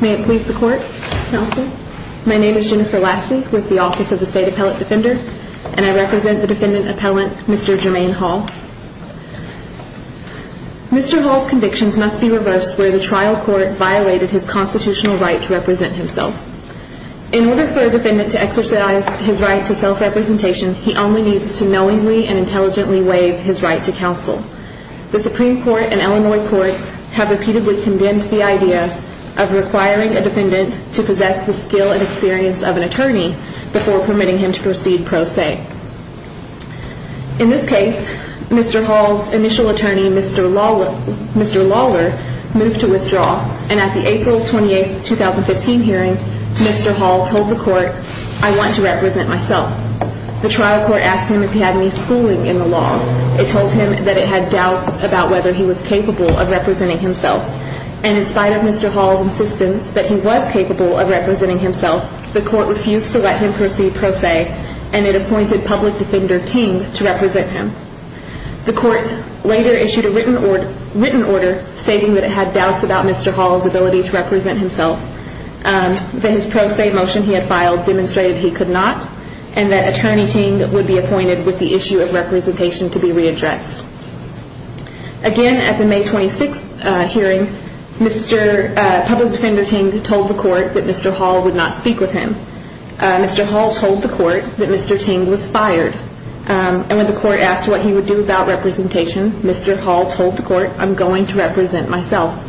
May it please the Court, Counsel. My name is Jennifer Lassie with the Office of the State Appellate Defender, and I represent the Defendant Appellant, Mr. Jermaine Hall. Mr. Hall's convictions must be reversed where the trial court violated his constitutional right to represent himself. In order for a defendant to exercise his right to self-representation, he only needs to knowingly and intelligently waive his right to counsel. The Supreme Court and Illinois courts have repeatedly condemned the idea of requiring a defendant to possess the skill and experience of an attorney before permitting him to proceed pro se. In this case, Mr. Hall's initial attorney, Mr. Lawler, moved to withdraw, and at the April 28, 2015 hearing, Mr. Hall told the court, I want to represent myself. The trial court asked him if he had any schooling in the law. It told him that it had doubts about whether he was capable of representing himself. And in spite of Mr. Hall's insistence that he was capable of representing himself, the court refused to let him proceed pro se, and it appointed public defender Ting to represent him. The court later issued a written order stating that it had doubts about Mr. Hall's ability to represent himself, that his pro se motion he had filed demonstrated he could not, and that attorney Ting would be appointed with the issue of representation to be readdressed. Again, at the May 26 hearing, public defender Ting told the court that Mr. Hall would not speak with him. Mr. Hall told the court that Mr. Ting was fired, and when the court asked what he would do about representation, Mr. Hall told the court, I'm going to represent myself.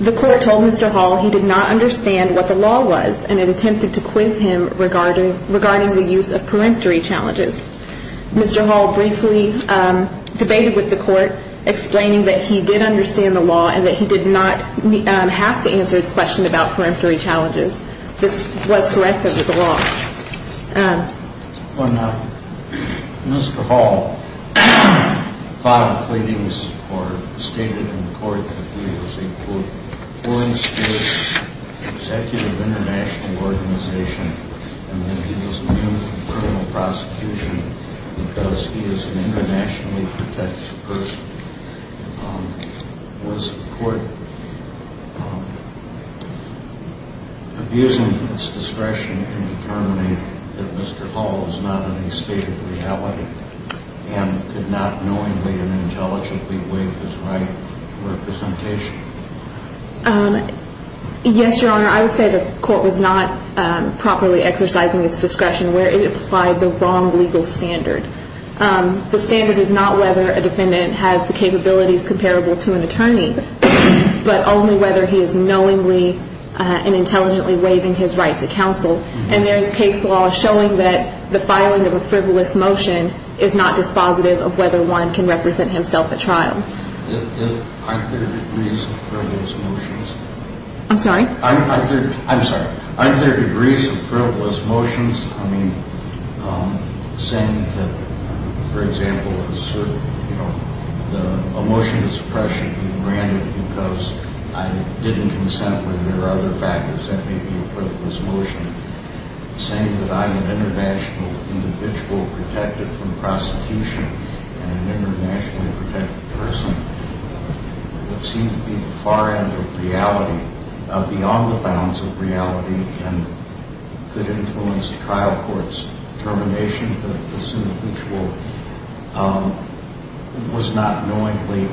The court told Mr. Hall he did not understand what the law was, and it attempted to quiz him regarding the use of peremptory challenges. Mr. Hall briefly debated with the court, explaining that he did understand the law and that he did not have to answer his question about peremptory challenges. This was correct under the law. When Mr. Hall filed pleadings or stated in court that he was a, quote, foreign state executive international organization and that he was immune from criminal prosecution because he is an internationally protected person, was the court abusing its discretion in determining that Mr. Hall was not in a state of reality and could not knowingly and intelligently waive his right to representation? Yes, Your Honor, I would say the court was not properly exercising its discretion where it applied the wrong legal standard. The standard is not whether a defendant has the capabilities comparable to an attorney, but only whether he is knowingly and intelligently waiving his right to counsel, and there is case law showing that the filing of a frivolous motion is not dispositive of whether one can represent himself at trial. Aren't there degrees of frivolous motions? I'm sorry? that seemed to be the far end of reality, beyond the bounds of reality, and could influence the trial court's determination that this individual was not knowingly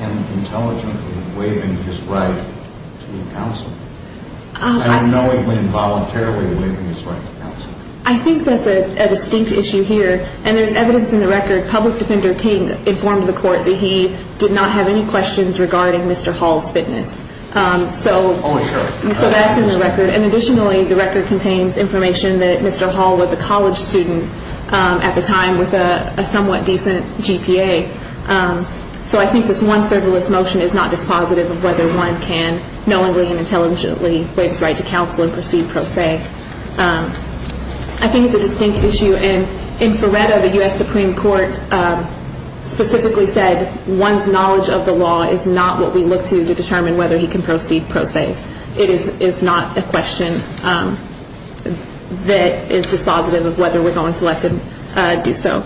and intelligently waiving his right to counsel, and knowingly and voluntarily waiving his right to counsel? I think that's a distinct issue here, and there's evidence in the record, public defender Ting informed the court that he did not have any questions regarding Mr. Hall's fitness, so that's in the record, and additionally, the record contains information that Mr. Hall was a college student at the time with a somewhat decent GPA, so I think this one frivolous motion is not dispositive of whether one can knowingly and intelligently waive his right to counsel and proceed pro se. I think it's a distinct issue, and in Feretta, the U.S. Supreme Court specifically said, one's knowledge of the law is not what we look to determine whether he can proceed pro se. It is not a question that is dispositive of whether we're going to let him do so.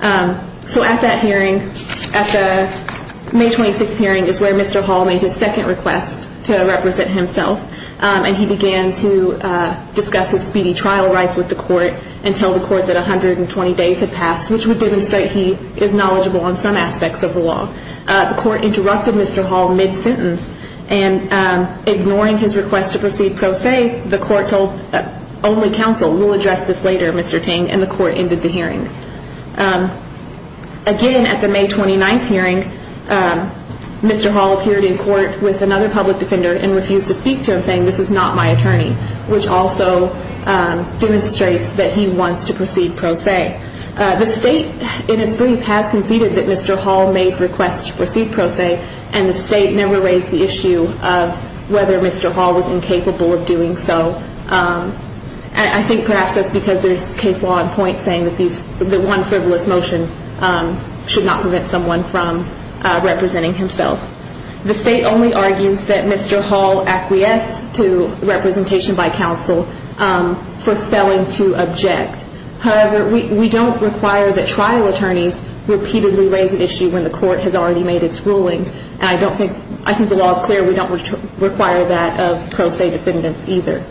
So at that hearing, at the May 26th hearing is where Mr. Hall made his second request to represent himself, and he began to discuss his speedy trial rights with the court and tell the court that 120 days had passed, which would demonstrate he is knowledgeable on some aspects of the law. The court interrupted Mr. Hall mid-sentence, and ignoring his request to proceed pro se, the court told only counsel, we'll address this later, Mr. Ting, and the court ended the hearing. Again, at the May 29th hearing, Mr. Hall appeared in court with another public defender and refused to speak to him, saying this is not my attorney, which also demonstrates that he wants to proceed pro se. The state, in its brief, has conceded that Mr. Hall made requests to proceed pro se, and the state never raised the issue of whether Mr. Hall was incapable of doing so. I think perhaps that's because there's case law in point saying that one frivolous motion should not prevent someone from representing himself. The state only argues that Mr. Hall acquiesced to representation by counsel for failing to object. However, we don't require that trial attorneys repeatedly raise an issue when the court has already made its ruling, and I think the law is clear we don't require that of pro se defendants either.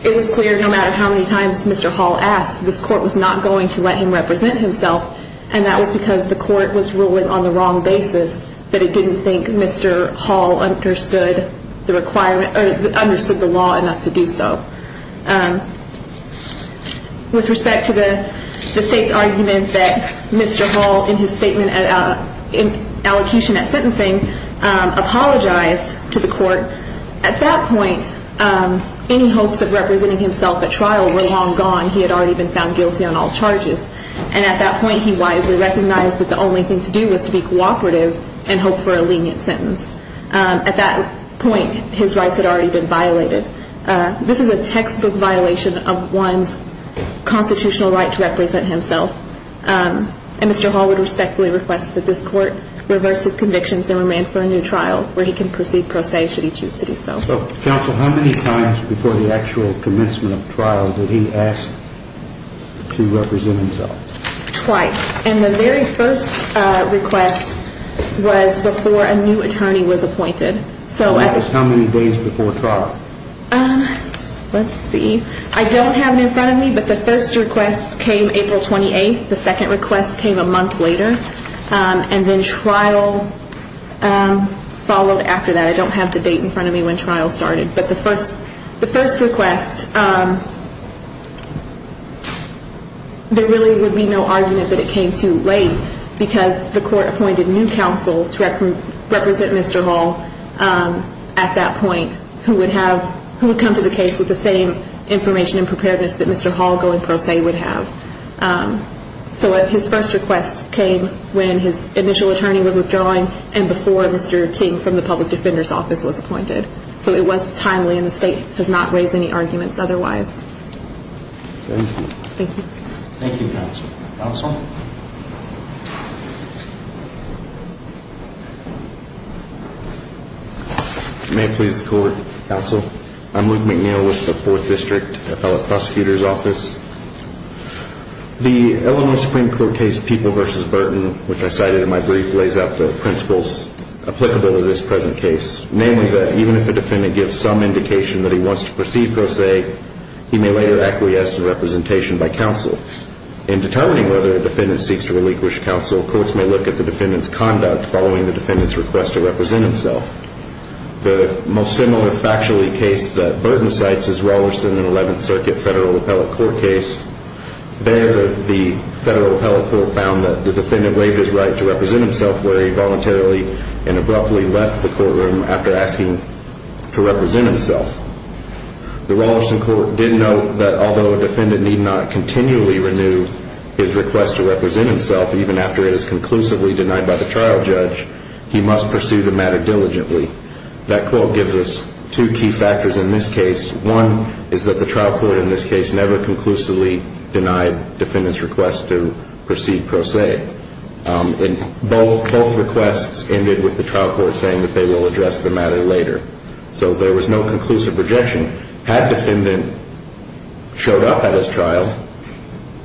It was clear no matter how many times Mr. Hall asked, this court was not going to let him represent himself, and that was because the court was ruling on the wrong basis, that it didn't think Mr. Hall understood the law enough to do so. With respect to the state's argument that Mr. Hall, in his statement in allocution at sentencing, apologized to the court, at that point, any hopes of representing himself at trial were long gone. He had already been found guilty on all charges, and at that point, he wisely recognized that the only thing to do was to be cooperative and hope for a lenient sentence. At that point, his rights had already been violated. This is a textbook violation of one's constitutional right to represent himself, and Mr. Hall would respectfully request that this court reverse his convictions and remand for a new trial where he can proceed pro se should he choose to do so. Counsel, how many times before the actual commencement of trial did he ask to represent himself? Twice, and the very first request was before a new attorney was appointed. And that was how many days before trial? Let's see. I don't have it in front of me, but the first request came April 28th. The second request came a month later, and then trial followed after that. I don't have the date in front of me when trial started. But the first request, there really would be no argument that it came too late because the court appointed new counsel to represent Mr. Hall at that point who would come to the case with the same information and preparedness that Mr. Hall going pro se would have. So his first request came when his initial attorney was withdrawing and before Mr. Ting from the public defender's office was appointed. So it was timely, and the state has not raised any arguments otherwise. Thank you. Thank you. Thank you, counsel. Counsel? May it please the court, counsel. I'm Luke McNeil with the Fourth District, a fellow prosecutor's office. The Illinois Supreme Court case People v. Burton, which I cited in my brief, lays out the principles applicable to this present case, namely that even if a defendant gives some indication that he wants to proceed pro se, he may later acquiesce in representation by counsel. In determining whether a defendant seeks to relinquish counsel, courts may look at the defendant's conduct following the defendant's request to represent himself. The most similar factually case that Burton cites is Rollerson and 11th Circuit Federal Appellate Court case. There, the Federal Appellate Court found that the defendant waived his right to represent himself where he voluntarily and abruptly left the courtroom after asking to represent himself. The Rollerson court did note that although a defendant need not continually renew his request to represent himself, even after it is conclusively denied by the trial judge, he must pursue the matter diligently. That quote gives us two key factors in this case. One is that the trial court in this case never conclusively denied defendant's request to proceed pro se, and both requests ended with the trial court saying that they will address the matter later. So there was no conclusive rejection. Had defendant showed up at his trial,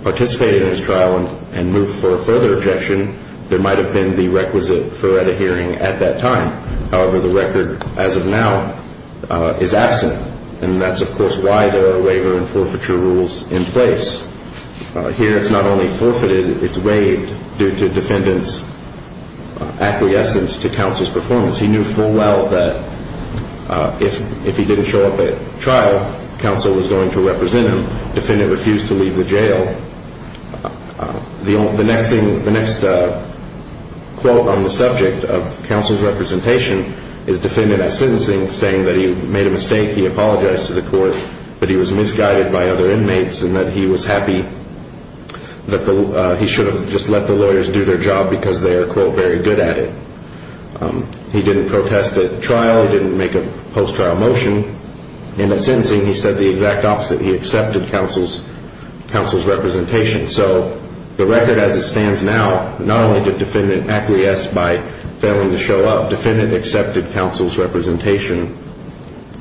participated in his trial, and moved for further objection, there might have been the requisite for at a hearing at that time. However, the record as of now is absent, and that's, of course, why there are waiver and forfeiture rules in place. Here, it's not only forfeited, it's waived due to defendant's acquiescence to counsel's performance. He knew full well that if he didn't show up at trial, counsel was going to represent him. Defendant refused to leave the jail. The next quote on the subject of counsel's representation is defendant at sentencing saying that he made a mistake, he apologized to the court, that he was misguided by other inmates, and that he was happy that he should have just let the lawyers do their job because they are, quote, very good at it. He didn't protest at trial. He didn't make a post-trial motion. In a sentencing, he said the exact opposite. He accepted counsel's representation. So the record as it stands now, not only did defendant acquiesce by failing to show up, defendant accepted counsel's representation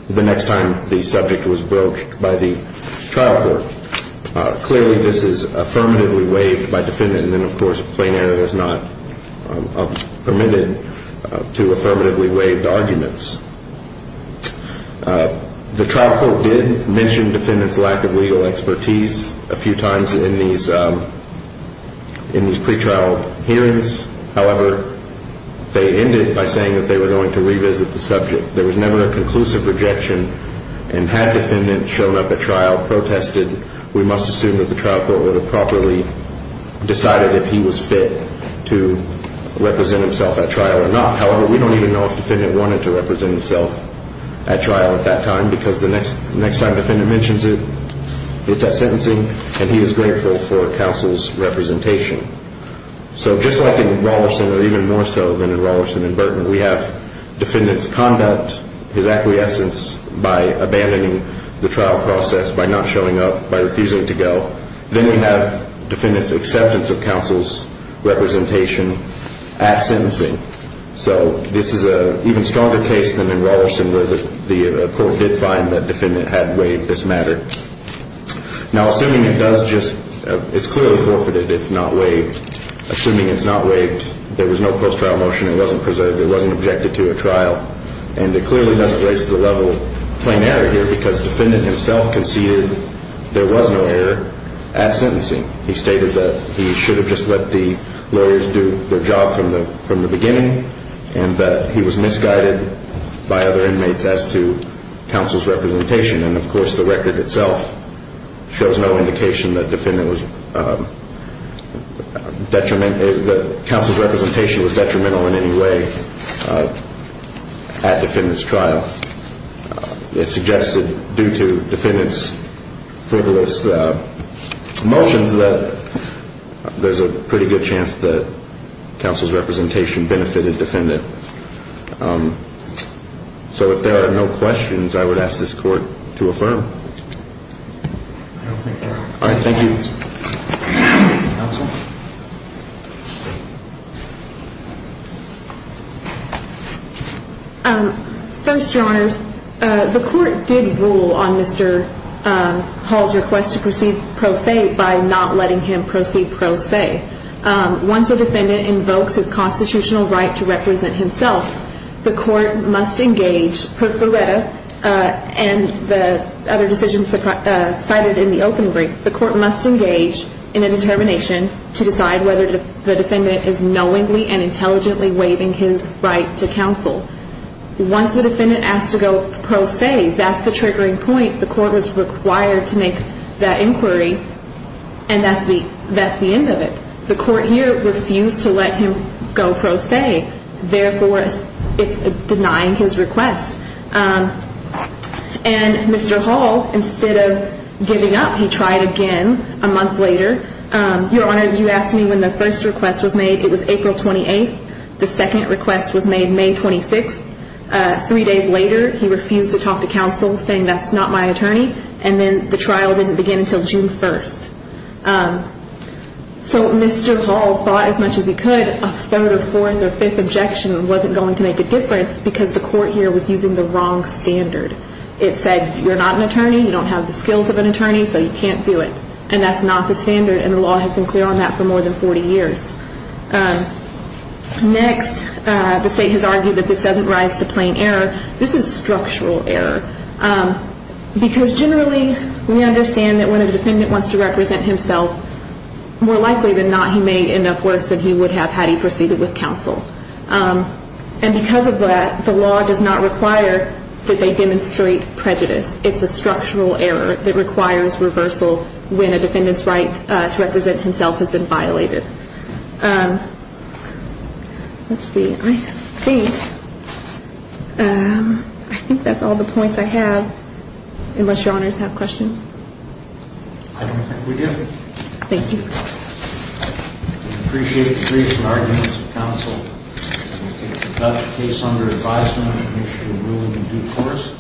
the next time the subject was broached by the trial court. Clearly, this is affirmatively waived by defendant, and then, of course, plain error is not permitted to affirmatively waive the arguments. The trial court did mention defendant's lack of legal expertise a few times in these pretrial hearings. However, they ended by saying that they were going to revisit the subject. There was never a conclusive rejection, and had defendant shown up at trial, protested, we must assume that the trial court would have properly decided if he was fit to represent himself at trial or not. However, we don't even know if defendant wanted to represent himself at trial at that time because the next time defendant mentions it, it's at sentencing, and he is grateful for counsel's representation. So just like in Rollerson, or even more so than in Rollerson and Burtman, we have defendant's conduct, his acquiescence by abandoning the trial process, by not showing up, by refusing to go. Then we have defendant's acceptance of counsel's representation at sentencing. So this is an even stronger case than in Rollerson where the court did find that defendant had waived this matter. Now, assuming it does just, it's clearly forfeited if not waived. Assuming it's not waived, there was no post-trial motion, it wasn't preserved, it wasn't objected to at trial. And it clearly doesn't raise to the level of plain error here because defendant himself conceded there was no error at sentencing. He stated that he should have just let the lawyers do their job from the beginning, and that he was misguided by other inmates as to counsel's representation. And, of course, the record itself shows no indication that defendant was detrimental, that counsel's representation was detrimental in any way at defendant's trial. It suggests that due to defendant's frivolous motions, that there's a pretty good chance that counsel's representation benefited defendant. So if there are no questions, I would ask this court to affirm. All right. Thank you. Counsel? First, Your Honors, the court did rule on Mr. Hall's request to proceed pro se by not letting him proceed pro se. Once a defendant invokes his constitutional right to represent himself, the court must engage, per Fureta and the other decisions cited in the open brief, the court must engage in a determination to decide whether the defendant is knowingly and intelligently waiving his right to counsel. Once the defendant asks to go pro se, that's the triggering point. The court is required to make that inquiry, and that's the end of it. The court here refused to let him go pro se, therefore, it's denying his request. And Mr. Hall, instead of giving up, he tried again a month later. Your Honor, you asked me when the first request was made. It was April 28th. The second request was made May 26th. Three days later, he refused to talk to counsel, saying that's not my attorney. And then the trial didn't begin until June 1st. So Mr. Hall fought as much as he could. A third or fourth or fifth objection wasn't going to make a difference because the court here was using the wrong standard. It said you're not an attorney, you don't have the skills of an attorney, so you can't do it. And that's not the standard, and the law has been clear on that for more than 40 years. Next, the State has argued that this doesn't rise to plain error. This is structural error because generally we understand that when a defendant wants to represent himself, more likely than not he may end up worse than he would have had he proceeded with counsel. And because of that, the law does not require that they demonstrate prejudice. It's a structural error that requires reversal when a defendant's right to represent himself has been violated. Let's see. I think that's all the points I have, unless your honors have questions. I don't think we do. Thank you. We appreciate the briefs and arguments of counsel. We'll take the Dutch case under advisement and issue a ruling in due course.